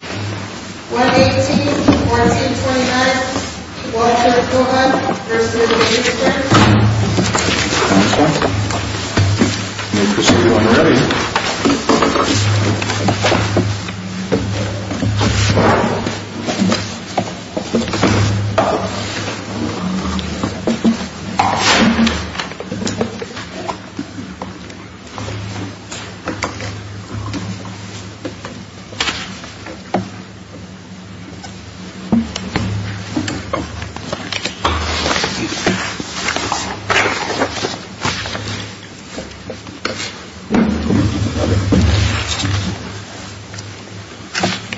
1-18, 1-2-29, 1-2-4-1, 1-2-3-3-3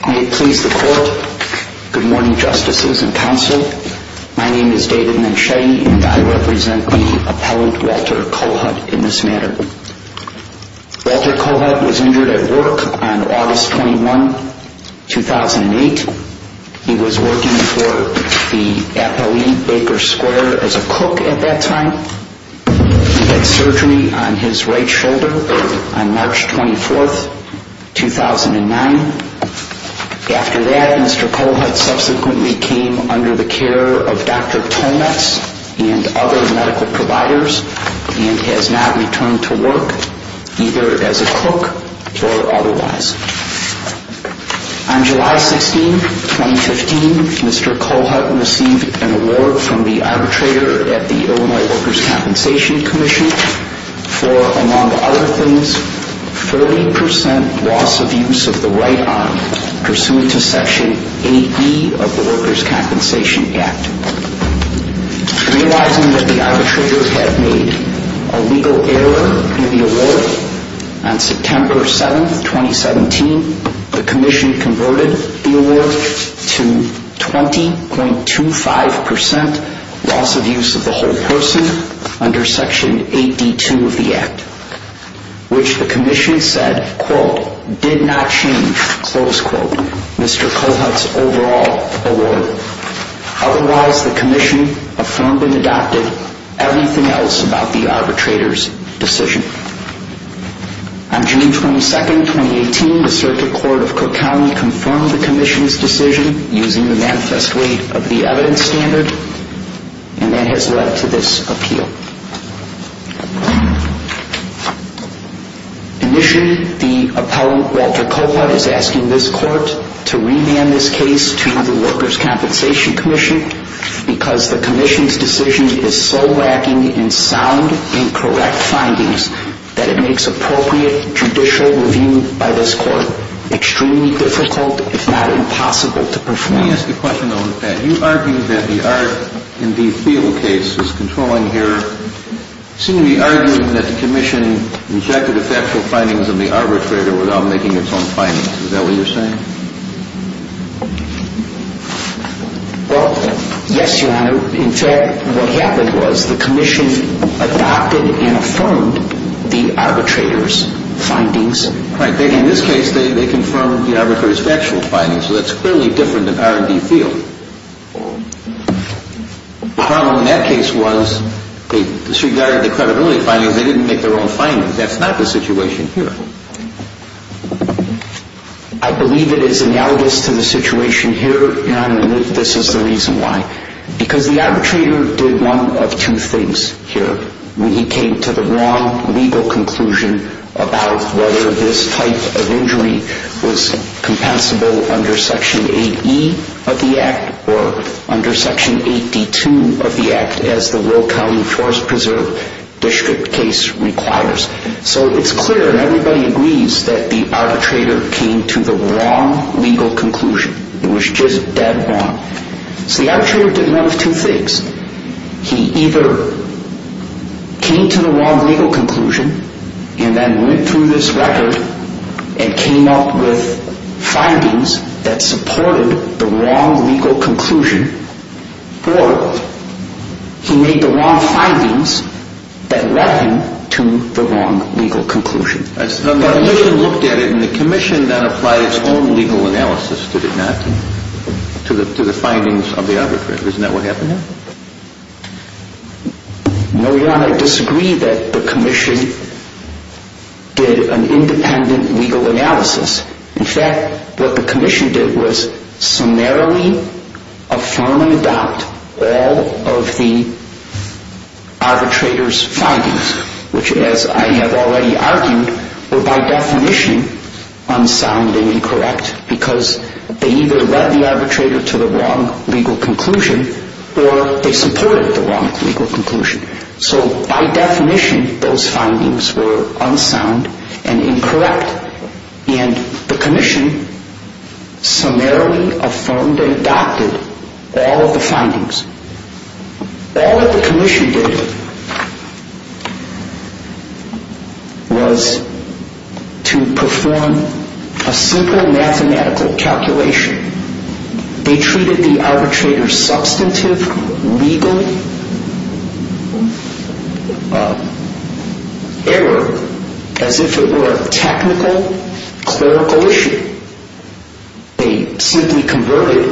May it please the Court, Good morning, Justices and Counsel. My name is David Manchetti and I represent the Appellant Walter Cohut in this matter. Walter Cohut was injured at work on August 21, 2008. He was working for the Appellee Baker Square as a cook at that time. He had surgery on his right shoulder on March 24, 2009. After that, Mr. Cohut subsequently came under the care of Dr. Tolmatz and other medical providers and has not returned to work either as a cook or otherwise. On July 16, 2015, Mr. Cohut received an award from the arbitrator at the Illinois Workers' Compensation Commission for, among other things, 30% loss of use of the right arm pursuant to Section 80 of the Workers' Compensation Act. Realizing that the arbitrator had made a legal error in the award, on September 7, 2017, the Commission converted the award to 20.25% loss of use of the whole person under Section 80.2 of the Act, which the Commission said, quote, did not change, close quote, Mr. Cohut's overall award. Otherwise, the Commission affirmed and adopted everything else about the arbitrator's decision. On June 22, 2018, the Circuit Court of Cook County confirmed the Commission's decision using the manifest way of the evidence standard, and that has led to this appeal. Initially, the appellant, Walter Cohut, is asking this court to remand this case to the Workers' Compensation Commission because the Commission's decision is so lacking in sound and correct findings that it makes appropriate judicial review by this court extremely difficult, if not impossible, to perform. Let me ask you a question on that. You argued that the Art in the Field case is controlling here. You seem to be arguing that the Commission rejected the factual findings of the arbitrator without making its own findings. Is that what you're saying? Well, yes, Your Honor. In fact, what happened was the Commission adopted and affirmed the arbitrator's findings. Right. In this case, they confirmed the arbitrator's factual findings, so that's clearly different than Art in the Field. The problem in that case was they disregarded the credibility findings. They didn't make their own findings. That's not the situation here. I believe it is analogous to the situation here, Your Honor, and I believe this is the reason why. Because the arbitrator did one of two things here when he came to the wrong legal conclusion about whether this type of injury was compensable under Section 8E of the statute. So it's clear, and everybody agrees, that the arbitrator came to the wrong legal conclusion. It was just dead wrong. So the arbitrator did one of two things. He either came to the wrong legal conclusion and then went through this record and came up with findings that supported the wrong legal conclusion, or he made the wrong findings that led him to the wrong legal conclusion. But the Commission looked at it and the Commission then applied its own legal analysis, did it not, to the findings of the arbitrator. Isn't that what happened there? No, Your Honor, I disagree that the Commission did an independent legal analysis. In fact, what the Commission did was summarily affirm and adopt all of the arbitrator's findings, which, as I have already argued, were by definition unsound and incorrect because they either led the arbitrator to the wrong legal conclusion or they supported the wrong legal conclusion. So by definition, those findings were unsound and incorrect, and the Commission summarily affirmed and adopted all of the findings. All that the Commission did was to perform a simple mathematical calculation. They treated the arbitrator's substantive legal error as if it were a technical, clerical issue. They simply converted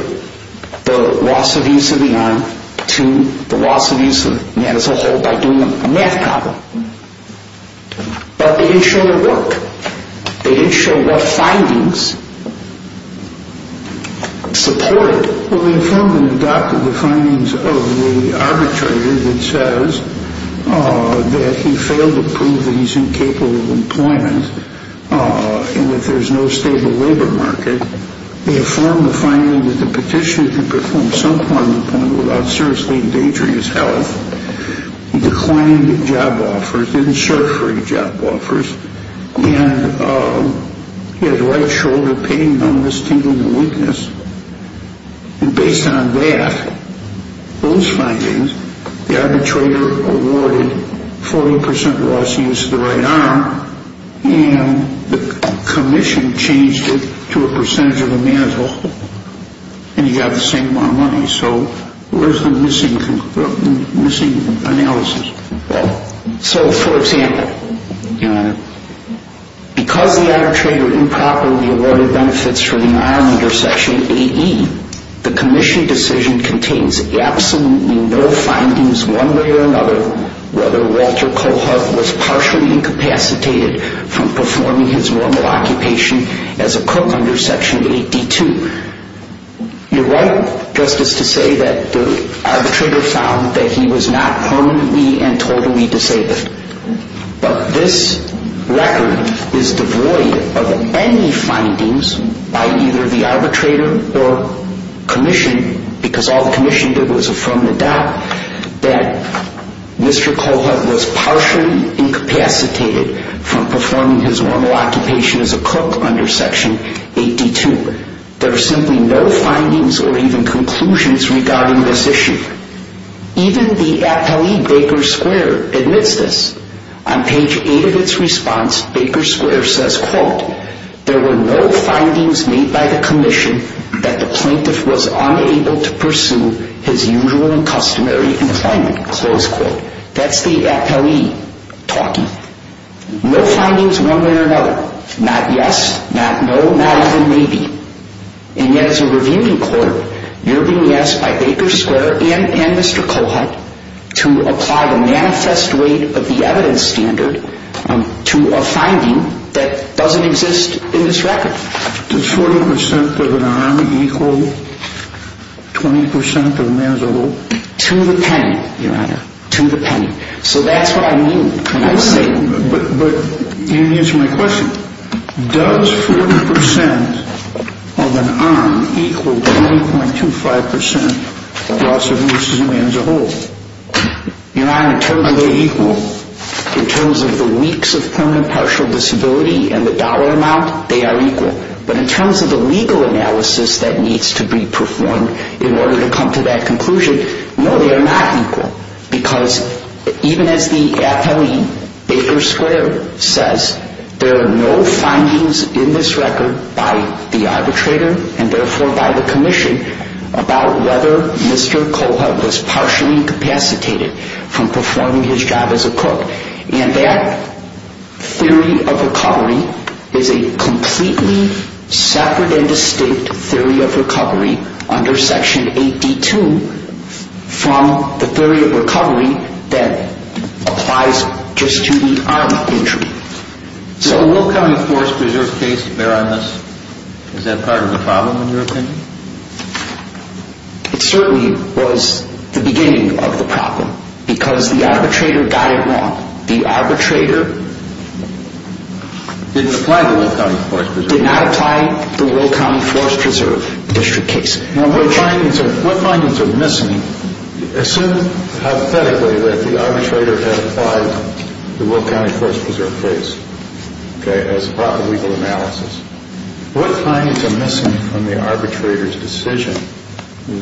the loss of use of the arm to the loss of use of the man's household by doing a math problem. But they didn't show it worked. They didn't show what findings supported it. Well, they affirmed and adopted the findings of the arbitrator that says that he failed to prove that he's incapable of employment and that there's no stable labor market. They affirmed the finding that the petitioner could perform some form of employment without seriously endangering his health. He declined job offers, didn't search for any job offers, and he had right shoulder pain, numbness, tingling, and weakness. And based on that, those findings, the arbitrator awarded 40% loss of use of the right arm, and the Commission changed it to a percentage of a man's whole, and he got the same amount of money. So where's the missing analysis? Well, so for example, because the arbitrator improperly awarded benefits for the arm under Section 8E, the Commission decision contains absolutely no findings one way or another whether Walter Cohart was partially incapacitated from performing his normal occupation as a the arbitrator found that he was not permanently and totally disabled. But this record is devoid of any findings by either the arbitrator or Commission, because all the Commission did was affirm and adopt that Mr. Cohart was partially incapacitated from performing his normal occupation as a cook under Section 8D2. There are simply no findings or even conclusions regarding this issue. Even the APLE Baker Square admits this. On page 8 of its response, Baker Square says, quote, there were no findings made by the Commission that the plaintiff was unable to pursue his usual and customary employment, close quote. That's the APLE talking. No findings one way or another. Not yes, not no, not even maybe. And yet as a reviewing court, you're being asked by Baker Square and Mr. Cohart to apply the manifest weight of the evidence standard to a finding that doesn't exist in this record. Did 40% of an arm equal 20% of a man's arm? To the penny, Your Honor. To the penny. So that's what I mean when I say... But you didn't answer my question. Does 40% of an arm equal 20.25% of a man's arm? Your Honor, in terms of their equal, in terms of the weeks of permanent partial disability and the dollar amount, they are equal. But in terms of the legal analysis that needs to be performed in order to come to that conclusion, no, they are not equal. Because even as the APLE Baker Square says, there are no findings in this record by the arbitrator and therefore by the Commission about whether Mr. Cohart was partially incapacitated from performing his job as a cook. And that theory of recovery is a completely separate and distinct theory of recovery under Section 8D2 from the theory of recovery that applies just to the arm injury. So the Will County Forest Preserve case, Your Honor, is that part of the problem in your opinion? It certainly was the beginning of the problem because the arbitrator got it wrong. The arbitrator... Didn't apply to Will County Forest Preserve. District case. Now what findings are missing? Assume hypothetically that the arbitrator had applied to Will County Forest Preserve case as part of the legal analysis. What findings are missing from the arbitrator's decision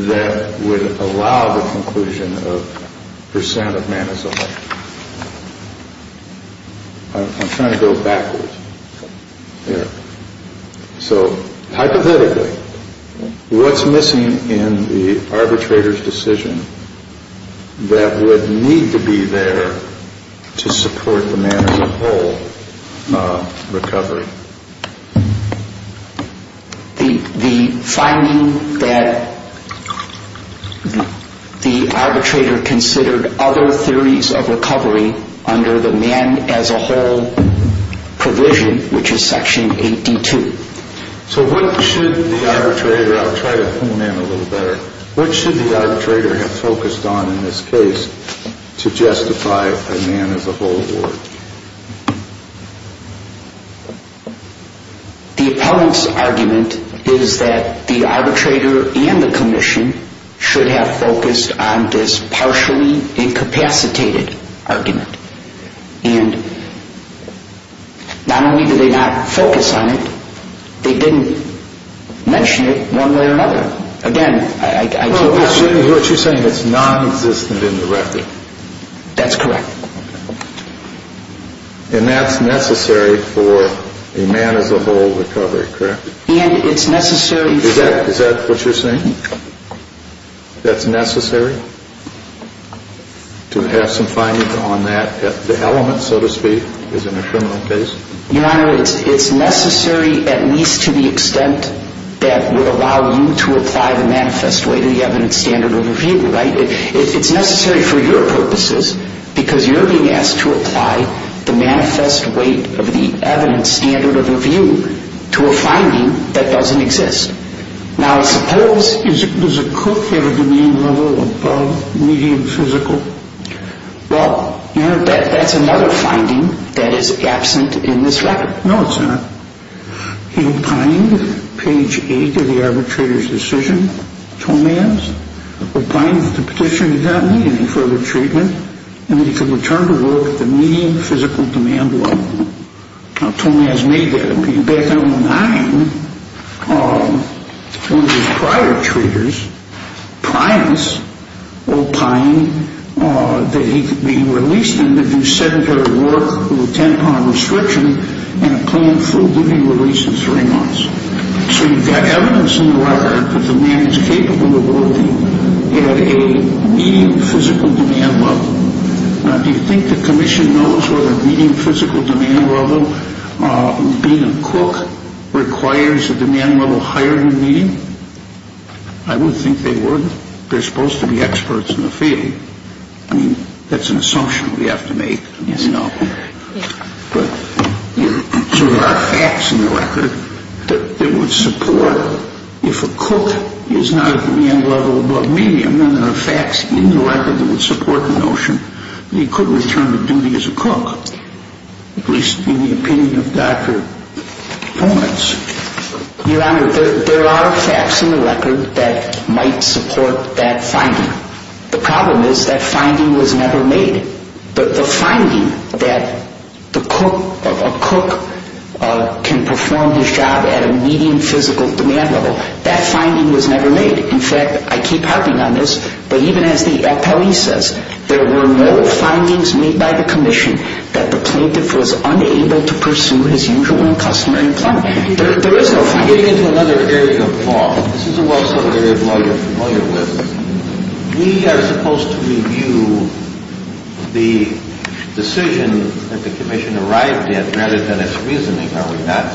that would allow the conclusion of percent of man as a whole? I'm trying to go backwards here. So hypothetically, what's missing in the arbitrator's decision that would need to be there to support the man as a whole recovery? The finding that the arbitrator considered other theories of recovery under the man as a whole provision, which is Section 8D2. So what should the arbitrator... I'll try to hone in a little better. What should the arbitrator have focused on in this case to justify a man as a whole award? The opponent's argument is that the arbitrator and the commission should have focused on this partially incapacitated argument. And not only did they not focus on it, they didn't mention it one way or another. Again, I... So what you're saying is it's non-existent in the record? That's correct. And that's necessary for a man as a whole recovery, correct? And it's necessary for... Is that what you're saying? That's necessary? To have some finding on that element, so to speak, as in a criminal case? Your Honor, it's necessary at least to the extent that would allow you to apply the manifest weight of the evidence standard of review, right? It's necessary for your purposes because you're being asked to apply the manifest weight of the evidence standard of review to a finding that doesn't exist. Now, suppose... Does a cook have a demand level above medium physical? Well, that's another finding that is absent in this record. No, it's not. He'll find page 8 of the arbitrator's decision to a man's, he'll find that the petitioner does not need any further treatment, and that he can return to work at the medium physical demand level. Now, Tony has made that opinion. Back in 2009, one of his prior treaters, Pryance O'Pine, that he released him to do sedentary work with a 10-pound restriction and a planned forgiving release in three months. So you've got evidence in the record that the man is capable of working at a medium physical demand level. Now, do you think the Commission knows whether a medium physical demand level being a cook requires a demand level higher than medium? I would think they would. They're supposed to be experts in the field. I mean, that's an assumption we have to make. Yes. But there are facts in the record that would support if a cook is not a demand level above medium, then there are facts in the record that would support the notion that he could return to duty as a cook, at least in the opinion of Dr. Pryance. Your Honor, there are facts in the record that might support that finding. The problem is that finding was never made. The finding that a cook can perform his job at a medium physical demand level, that finding was never made. In fact, I keep harping on this, but even as the appellee says, there were no findings made by the Commission that the plaintiff was unable to pursue his usual and customary employment. There is no finding. Getting into another area of law, this is a well-studded area of law you're familiar with. We are supposed to review the decision that the Commission arrived at rather than its reasoning, are we not?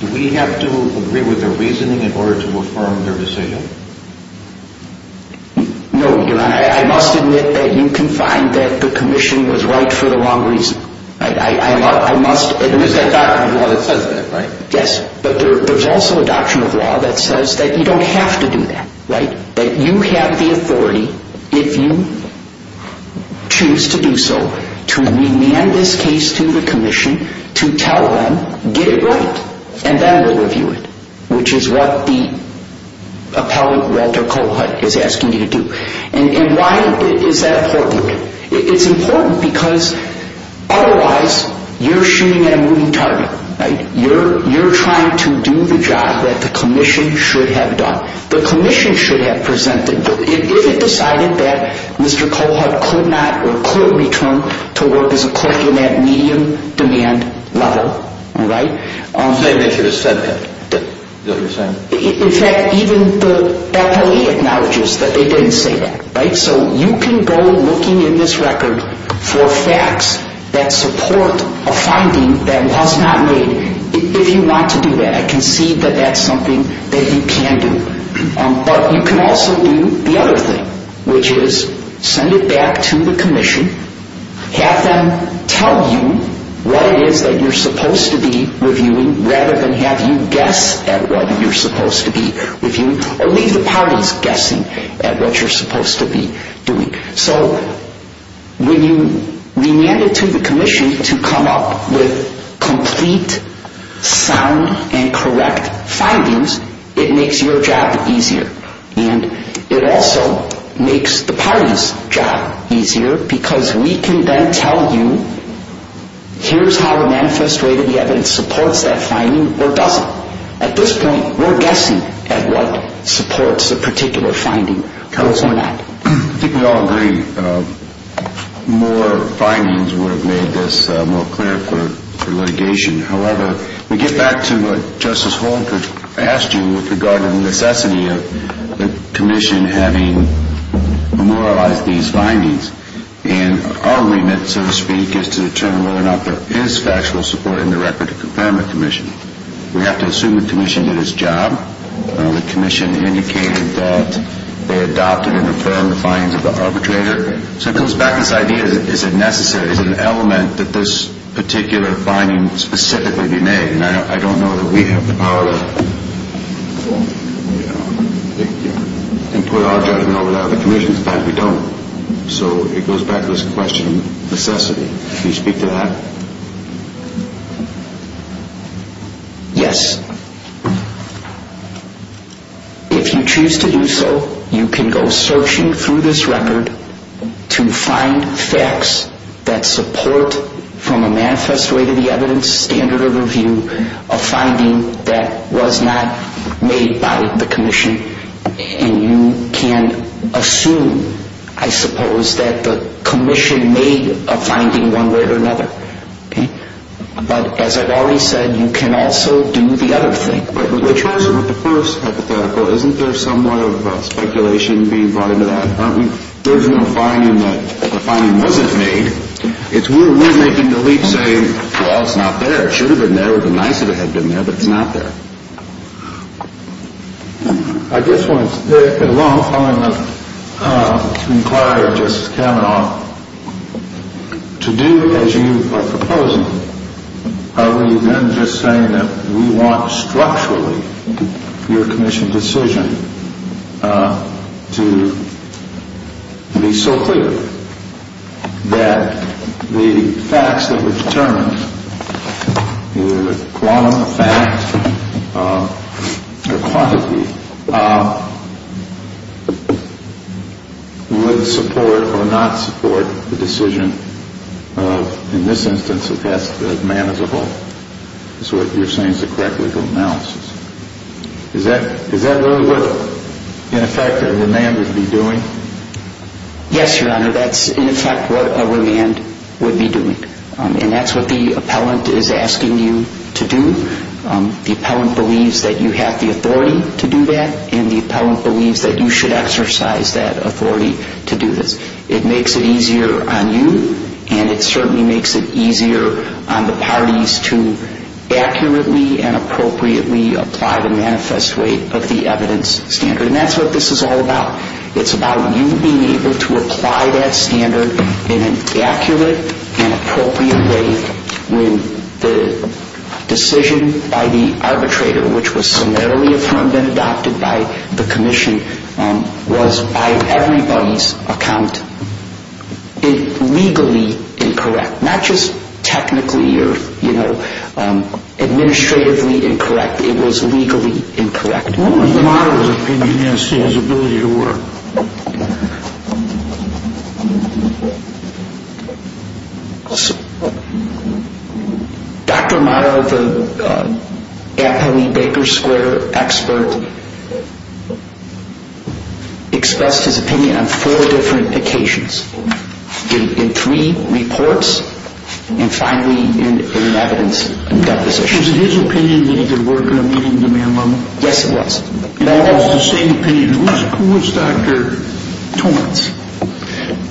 Do we have to agree with their reasoning in order to affirm their decision? No, Your Honor. I must admit that you can find that the Commission was right for the wrong reason. There is a doctrine of law that says that, right? Yes, but there is also a doctrine of law that says that you don't have to do that, right? That you have the authority if you choose to do so to remand this case to the Commission to tell them, get it right and then we'll review it which is what the appellate, Walter Cohut, is asking you to do. And why is that important? It's important because otherwise you're shooting at a moving target, right? You're trying to do the job that the Commission should have done. The Commission should have presented if it decided that Mr. Cohut could not or could return to work as a clerk in that medium-demand level, right? So they made sure to send him? Is that what you're saying? In fact, even the appellate acknowledges that they didn't say that, right? So you can go looking in this record for facts that support a finding that was not made. If you want to do that, I can see that that's something that you can do. But you can also do the other thing which is send it back to the Commission have them tell you what it is that you're supposed to be reviewing rather than have you guess at what you're supposed to be reviewing or leave the parties guessing at what you're supposed to be doing. So when you remand it to the Commission to come up with complete, sound and correct findings it makes your job easier and it also makes the parties' job easier because we can then tell you here's how to manifest whether the evidence supports that finding or doesn't. At this point, we're guessing at what supports a particular finding or not. I think we all agree more findings would have made this more clear for litigation. However, we get back to what Justice Holmquist asked you regarding the necessity of the Commission having memorialized these findings and our remit, so to speak is to determine whether or not there is factual support in the Record of Confirmation Commission. We have to assume the Commission did its job. The Commission indicated that they adopted and affirmed the findings of the arbitrator. So it goes back to this idea is it necessary, is it an element that this particular finding specifically be made? I don't know that we have the power to put our judgment over that of the Commission. In fact, we don't. So it goes back to this question of necessity. Can you speak to that? Yes. If you choose to do so, you can go searching through this Record to find facts that support from a manifest way to the evidence a standard of review a finding that was not made by the Commission and you can assume, I suppose, that the Commission made a finding one way or another. But as I've already said you can also do the other thing. But with the first hypothetical isn't there some way of speculation being brought into that? There's no finding that the finding wasn't made. We're making the leap saying, well, it's not there. It should have been there, it would have been nicer if it had been there, but it's not there. I just want to, at a long time, inquire Justice Kavanaugh to do as you are proposing are we then just saying that we want structurally your Commission decision to be so clear that the facts that were determined either the quantum of fact or quantity would support or not support the decision of in this instance of man as a whole is what you're saying is a correct legal analysis. Is that really what in effect a man would be doing? Yes, Your Honor. That's in effect what a man would be doing. And that's what the appellant is asking you to do. The appellant believes that you have the authority to do that and the appellant believes that you should exercise that authority to do this. It makes it easier on you and it certainly makes it easier on the parties to accurately and appropriately apply the manifest weight of the evidence standard. And that's what this is all about. It's about you being able to apply that standard in an accurate and appropriate way when the decision by the arbitrator which was summarily affirmed and adopted by the Commission was by everybody's account legally incorrect. Not just technically or administratively incorrect. It was legally incorrect. What would Mario's opinion be as to his ability to work? Dr. Mario the appellee Baker Square expert expressed his opinion on four different occasions in three reports and finally in an evidence deposition. Was it his opinion that he could work at a meeting demand level? Yes it was. It was the same opinion. Who was Dr. Tomitz?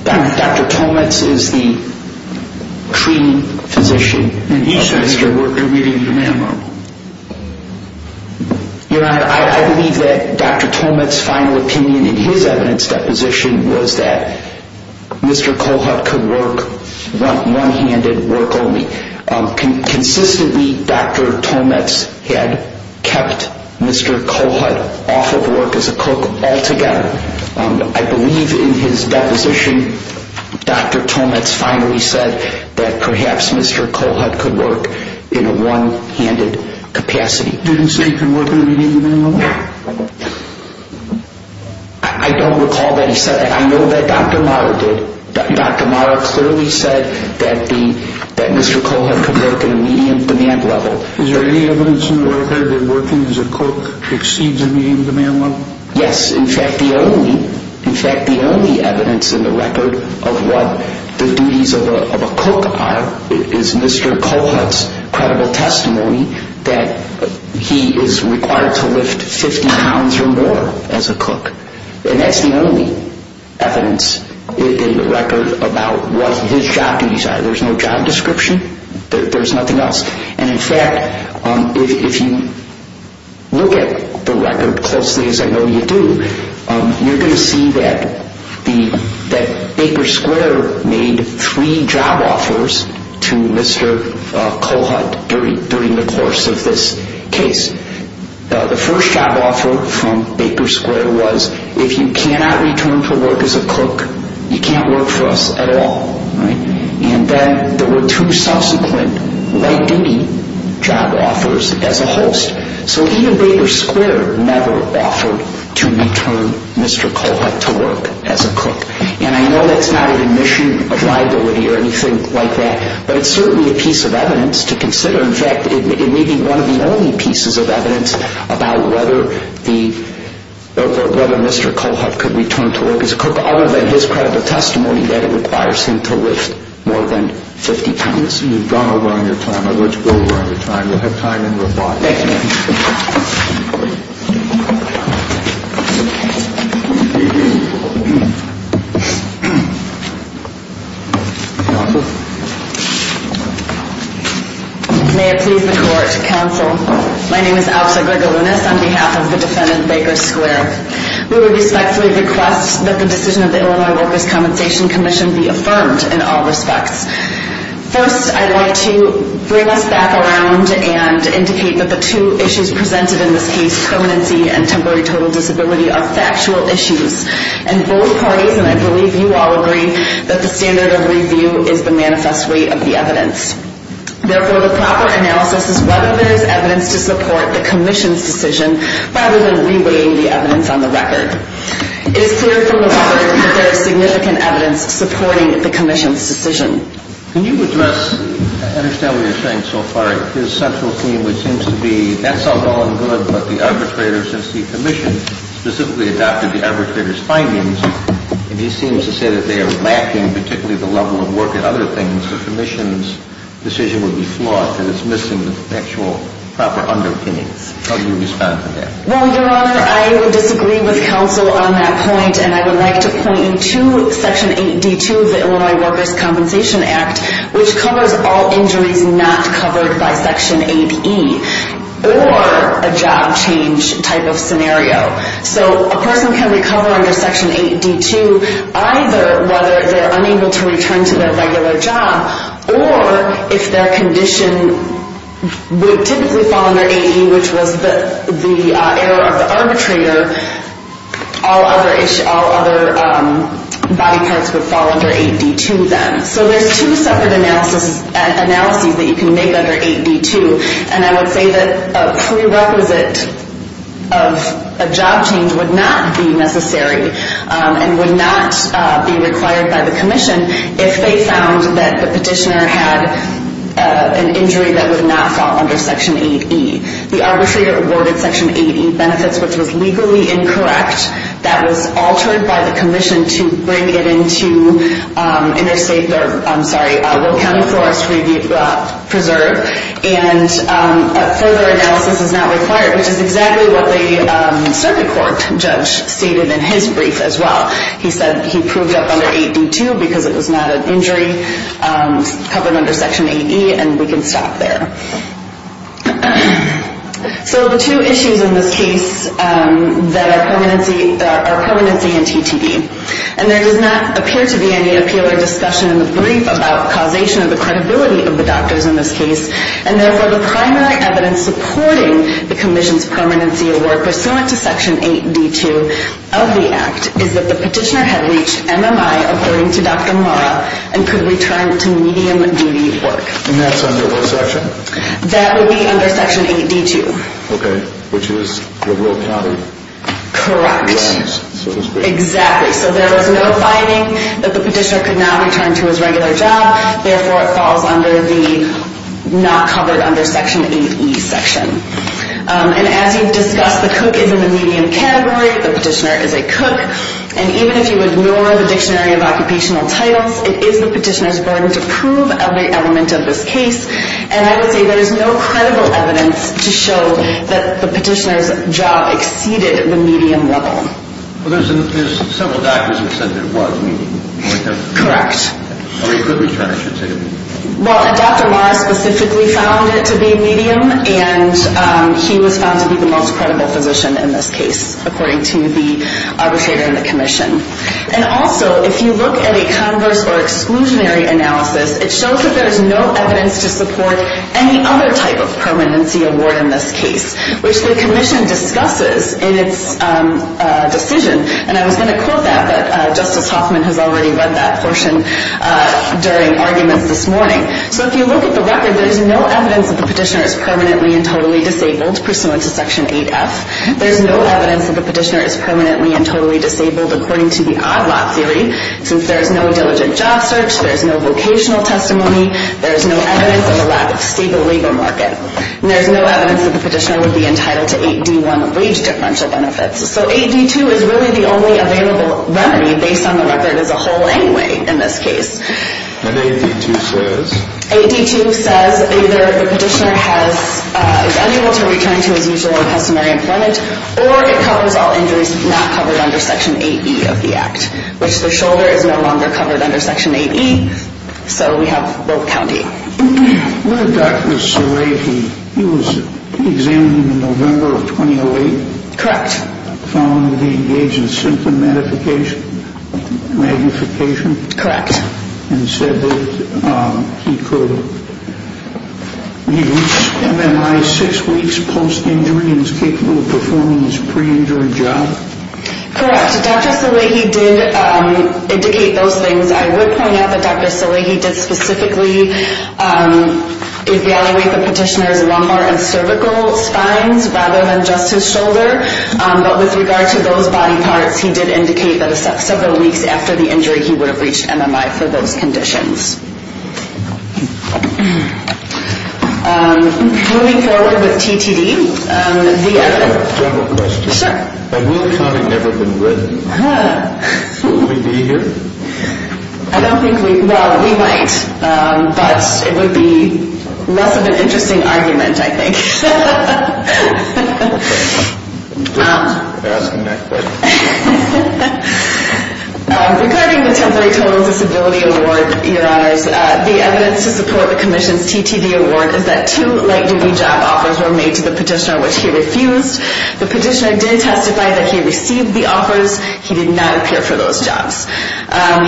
Dr. Tomitz is the treating physician. And he said he could work at a meeting demand level. Your Honor I believe that Dr. Tomitz final opinion in his evidence deposition was that Mr. Cohut could work one handed work only. Consistently Dr. Tomitz had kept Mr. Cohut off of work as a cook altogether. I believe in his deposition Dr. Tomitz finally said that perhaps Mr. Cohut could work in a one handed capacity. Did he say he could work at a meeting demand level? I don't recall that he said that. I know that Dr. Mario did. Dr. Mario clearly said that Mr. Cohut could work at a meeting demand level. Is there any evidence in the record that working as a cook exceeds a meeting demand level? Yes, in fact the only in fact the only evidence in the record of what the duties of a cook are is Mr. Cohut's credible testimony that he is required to lift 50 pounds or more as a cook. And that's the only evidence in the record about what his job duties are. There's no job description. There's nothing else. And in fact, if you look at the record closely as I know you do, you're going to see that Baker Square made three job offers to Mr. Cohut during the course of this case. The first job offer from Baker Square was if you cannot return to work as a cook, you can't work for us at all. And then there were two subsequent late duty job offers as a host. So he and Baker Square never offered to return Mr. Cohut to work as a cook. And I know that's not an admission of liability or anything like that, but it's certainly a piece of evidence to consider. In fact, it may be one of the only pieces of evidence about whether the whether Mr. Cohut could return to work as a cook, other than his credit of testimony that it requires him to lift more than 50 pounds. You've gone over on your time. I'd like to go over on your time. You'll have time in reply. May it please the Court, Counsel. My name is Alisa Grigolunas on behalf of the defendant, Baker Square. We would respectfully request that the decision of the Illinois Workers' Compensation Commission be affirmed in all respects. First, I'd like to bring us back around and indicate that the two issues presented in this case, permanency and temporary total disability, are factual issues. And both parties, and I believe you all agree, that the standard of review is the manifest weight of the evidence. Therefore, the proper analysis is whether there is evidence to support the Commission's decision rather than re-weighing the evidence on the record. It is clear from the record that there is significant evidence supporting the Commission's decision. Can you address, I understand what you're saying so far, his central theme, which seems to be, that's all well and good, but the arbitrator, since the Commission specifically adopted the arbitrator's findings, and he seems level of work and other things, the Commission's decision would be flawed and it's missing the actual, proper underpinnings. How do you respond to that? Well, Your Honor, I would disagree with counsel on that point and I would like to point you to Section 8D2 of the Illinois Workers' Compensation Act which covers all injuries not covered by Section 8E or a job change type of scenario. So, a person can recover under Section 8D2 either whether they're unable to return to their regular job or if their condition would typically fall under 8E, which was the error of the arbitrator all other body parts would fall under 8D2 then. So there's two separate analyses that you can make under 8D2 and I would say that a prerequisite of a job change would not be necessary and would not be required by the Commission if they found that the petitioner had an injury that would not fall under Section 8E. The arbitrator awarded Section 8E benefits, which was legally incorrect that was altered by the Commission to bring it into interstate I'm sorry, Will County Forest Preserve and further analysis is not required, which is exactly what the circuit court judge stated in his brief as well. He said that he proved up under 8D2 because it was not an injury covered under Section 8E and we can stop there. So the two issues in this case are permanency and TTE and there does not appear to be any appeal or discussion in the brief about causation of the credibility of the doctors in this case and therefore the primary evidence supporting the Commission's permanency award pursuant to Section 8D2 is that the petitioner had reached MMI according to Dr. Mora and could return to medium duty work. And that's under what section? That would be under Section 8D2. Okay, which is the Will County Correct, exactly so there was no finding that the petitioner could not return to his regular job therefore it falls under the not covered under Section 8E section and as you've discussed, the cook is in the and even if you ignore the Dictionary of Occupational Titles it is the petitioner's burden to prove every element of this case and I would say there is no credible evidence to show that the petitioner's job exceeded the medium level. Well there's several doctors who said it was medium Correct. Well Dr. Mora specifically found it to be medium and he was found to be the most credible physician in this case according to the arbitrator and the commission and also if you look at a converse or exclusionary analysis it shows that there is no evidence to support any other type of permanency award in this case which the commission discusses in its decision and I was going to quote that but Justice Hoffman has already read that portion during arguments this morning so if you look at the record there is no evidence that the petitioner is permanently and totally disabled pursuant to section 8F there is no evidence that the petitioner is permanently and totally disabled according to the odd lot theory since there is no diligent job search, there is no vocational testimony there is no evidence of a lack of stable legal market and there is no evidence that the petitioner would be entitled to 8D1 wage differential benefits so 8D2 is really the only available remedy based on the record as a whole anyway in this case and 8D2 says 8D2 says either the petitioner is unable to return to his usual customary employment or it covers all injuries not covered under section 8E of the act which the shoulder is no longer covered under section 8E so we have both counting Dr. Sarai, he was examined in November of 2008 correct found that he engaged in symptom magnification correct and said that he could he reached MMI 6 weeks post injury and was capable of performing his pre-injury job correct Dr. Salehi did indicate those things I would point out that Dr. Salehi did specifically evaluate the petitioner's lumbar and cervical spines rather than just his shoulder but with regard to those body parts he did indicate that several weeks after the injury he would have reached MMI for those conditions moving forward with TTD I have a general question will the comment never have been written will we be here I don't think we well we might but it would be less of an interesting argument I think asking that question regarding the temporary total disability award the evidence to support the commission's TTD award is that two light duty job offers were made to the petitioner which he refused the petitioner did testify that he received the offers, he did not appear for those jobs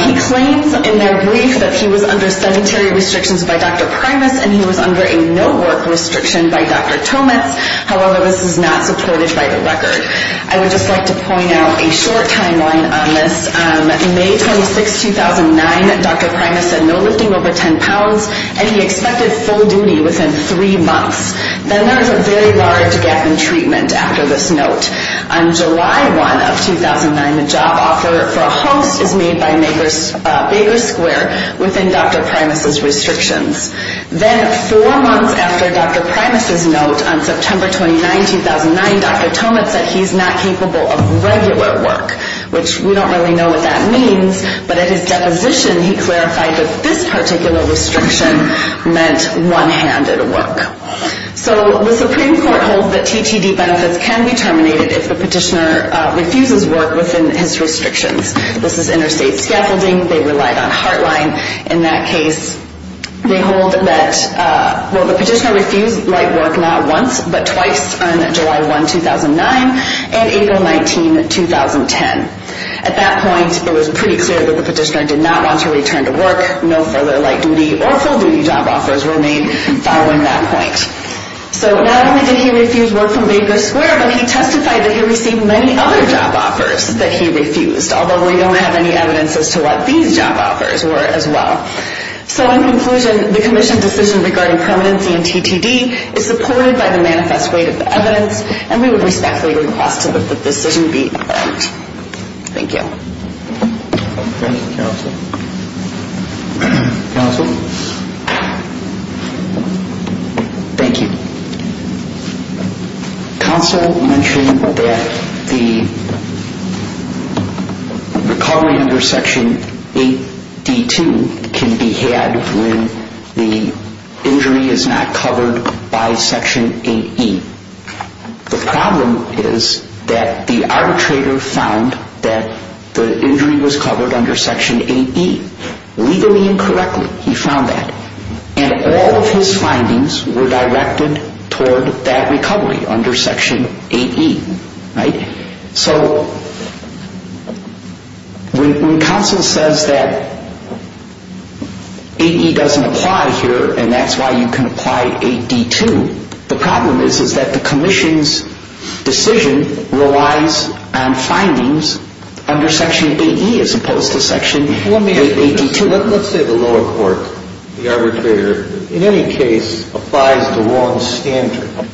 he claims in their brief that he was under sanitary restrictions by Dr. Primus and he was under a no work restriction by Dr. Tomitz however this is not supported by the record I would just like to point out a short timeline on this May 26, 2009 Dr. Primus said no lifting over 10 pounds and he expected full duty within 3 months then there is a very large gap in treatment after this note on July 1, 2009 the job offer for a host is made by Baker Square within Dr. Primus' restrictions then 4 months after Dr. Primus' note on September 29, 2009 Dr. Tomitz said he is not capable of regular work which we don't really know what that means but at his deposition he clarified that this particular restriction meant one handed work so the Supreme Court holds that TTD benefits can be terminated if the petitioner refuses work within his restrictions this is interstate scaffolding they relied on heartline in that case they hold that the petitioner refused light work not once but twice on July 1, 2009 and April 19, 2010 at that point it was pretty clear that the petitioner did not want to return to work no further light duty or full duty job offers were made following that point so not only did he refuse work from Baker Square but he testified that he received many other job offers that he refused although we don't have any evidence as to what these job offers were as well so in conclusion the Commission's decision regarding permanency in TTD is supported by the manifest weight of the evidence and we would respectfully request that the decision be adjourned thank you thank you counsel counsel thank you counsel mentioned that the recovery under section 8D2 can be had when the injury is not covered by section 8E the problem is that the arbitrator found that the injury was covered under section 8E legally and correctly he found that and all of his findings were directed toward that recovery under section 8E so when counsel says that 8E doesn't apply here and that's why you can apply 8D2 the problem is that the Commission's decision relies on findings under section 8E as opposed to section 8D2 let's say the lower court the arbitrator in any case applies the wrong standard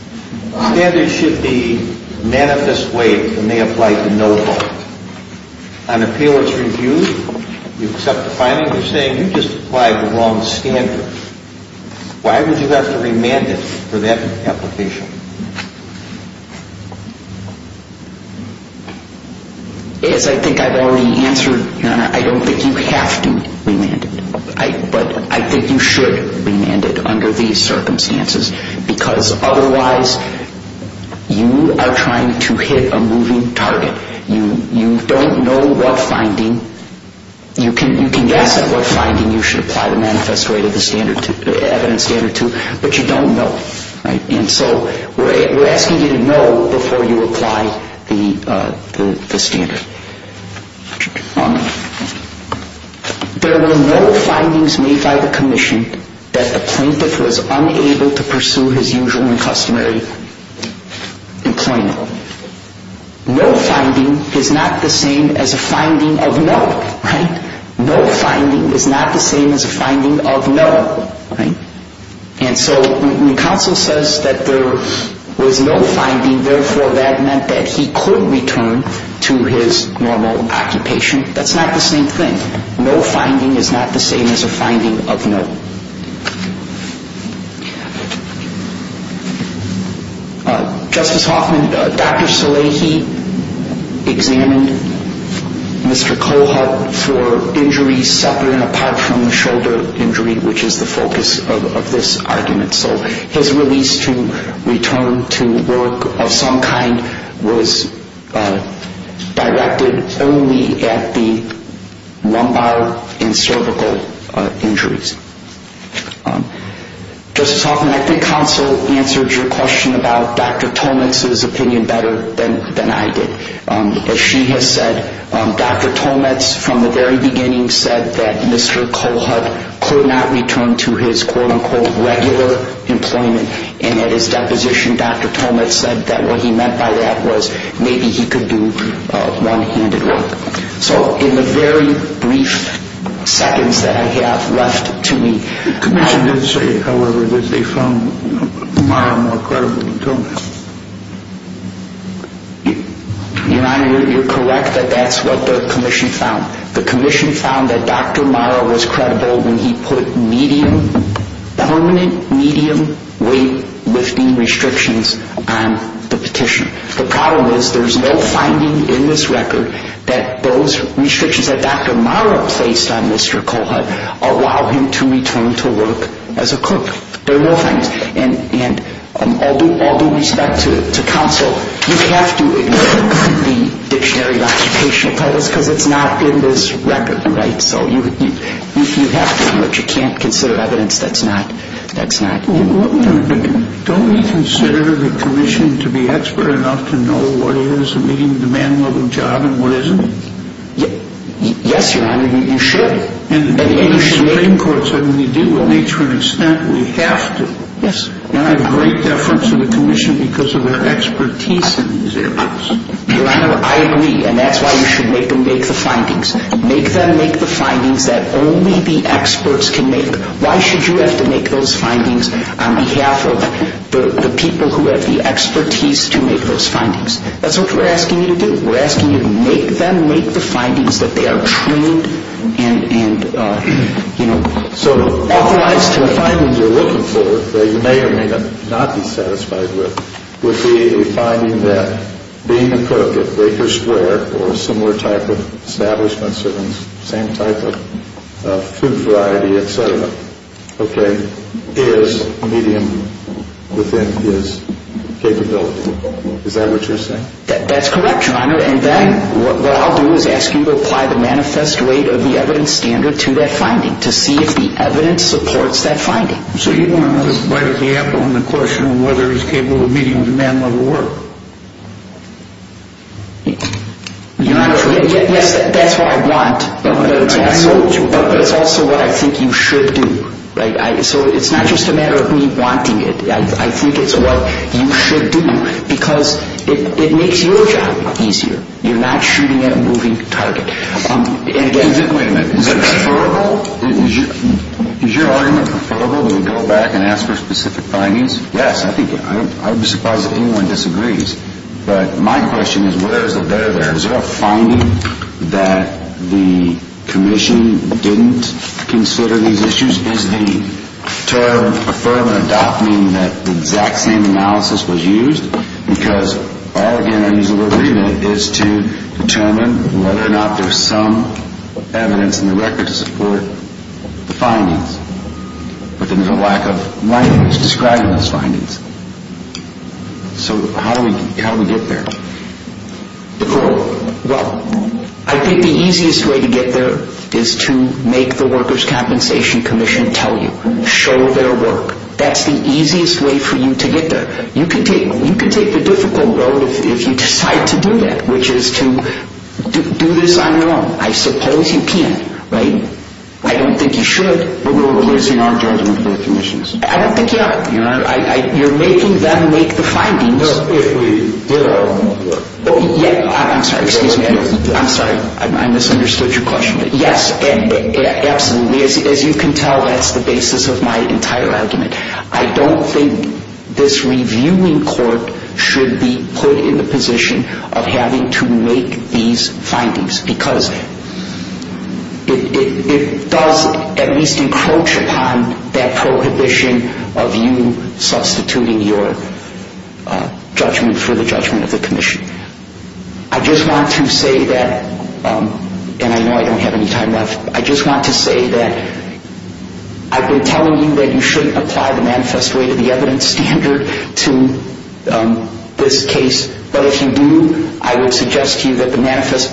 standards should be manifest weight and they apply to no fault on appeal it's reviewed you accept the findings you just applied the wrong standard why would you have to remand it for that application yes I think I've already answered your honor I don't think you have to remand it but I think you should remand it under these circumstances because otherwise you are trying to hit a moving target you don't know what finding you can guess at what finding you should apply the manifest weight of the evidence standard to but you don't know and so we're asking you to know before you apply the standard there were no findings made by the Commission that the plaintiff was unable to pursue his usual and customary employment no finding is not the same as a finding of no no finding is not the same as a finding of no and so when counsel says that there was no finding therefore that meant that he could return to his normal occupation that's not the same thing no finding is not the same as a finding of no Justice Hoffman, Dr. Salehi examined Mr. Kohut for injuries separate and apart from the shoulder injury which is the focus of this argument so his release to return to work of some kind was directed only at the lumbar and cervical injuries Justice Hoffman, I think counsel answered your question about Dr. Tolmans opinion better than I did as she has said Dr. Tolmans from the very beginning said that Mr. Kohut could not return to his quote unquote regular employment and at his deposition Dr. Tolmans said that what he meant by that was maybe he could do one handed work so in the very brief seconds that I have left to me the Commission did say however that they found Mara more you're correct that that's what the Commission found the Commission found that Dr. Mara was credible when he put medium permanent medium weight lifting restrictions on the petition the problem is there is no finding in this record that those restrictions that Dr. Mara placed on Mr. Kohut allow him to return to work as a cook and all due respect to counsel you have to ignore the dictionary because it's not in this record right so you have to but you can't consider evidence that's not don't we consider the Commission to be expert enough to know what is a medium demand level job and what isn't yes your honor you should when you deal with nature and extent we have to and I have great deference to the Commission because of their expertise in these areas your honor I agree and that's why you should make them make the findings make them make the findings that only the experts can make why should you have to make those findings on behalf of the people who have the expertise to make those findings that's what we're asking you to do we're asking you to make them make the findings that they are trained and you know so otherwise the findings you're looking for that you may or may not be satisfied with would be a finding that being a cook at baker square or a similar type of establishment serving the same type of food variety etc okay is medium within his capability is that what you're saying that's correct your honor and then what I'll do is ask you to apply the manifest rate of the evidence standard to that finding to see if the evidence supports that finding so you want to bite the apple on the question of whether it's capable of meeting the demand level work yes that's what I want but it's also what I think you should do so it's not just a matter of me wanting it I think it's what you should do because it makes your job easier you're not shooting at a moving target wait a minute is it preferable is your argument preferable to go back and ask for specific findings yes I would be surprised if anyone disagrees but my question is where is the better there is there a finding that the commission didn't consider these issues is the term affirmative adopting that the exact same analysis was used because all the entities of agreement is to determine whether or not there's some evidence in the record to support the findings but there's a lack of language describing those findings so how do we get there well I think the easiest way to get there is to make the workers compensation commission tell you show their work that's the easiest way for you to get there you can take the difficult road if you decide to do that which is to do this on your own I suppose you can right I don't think you should but we're releasing our judgment to the commission I don't think you are you're making them make the findings if we did our homework I'm sorry I misunderstood your question yes absolutely as you can tell that's the basis of my entire argument I don't think this should be put in the position of having to make these findings because it does at least encroach upon that prohibition of you substituting your judgment for the judgment of the commission I just want to say that and I know I don't have any time left I just want to say that I've been telling you that you shouldn't apply the manifest way to the evidence standard to this case but if you do I would suggest to you that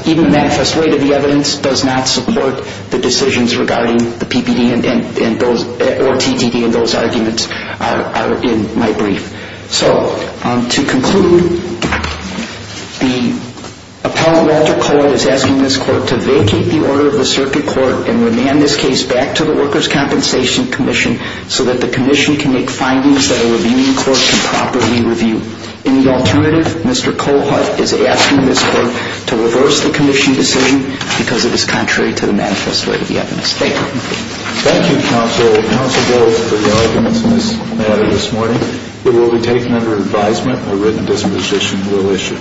even the manifest way to the evidence does not support the decisions regarding the PPD and those or TTD and those arguments are in my brief so to conclude the appellant Walter Cohen is asking this court to vacate the order of the circuit court and remand this case back to the workers compensation commission so that the commission can make findings that a reviewing court can properly review in the alternative Mr. Cohut is asking this court to reverse the commission decision because it is contrary to the manifest way to the evidence standard thank you counsel for your arguments on this matter this morning it will be taken under advisement a written disposition will issue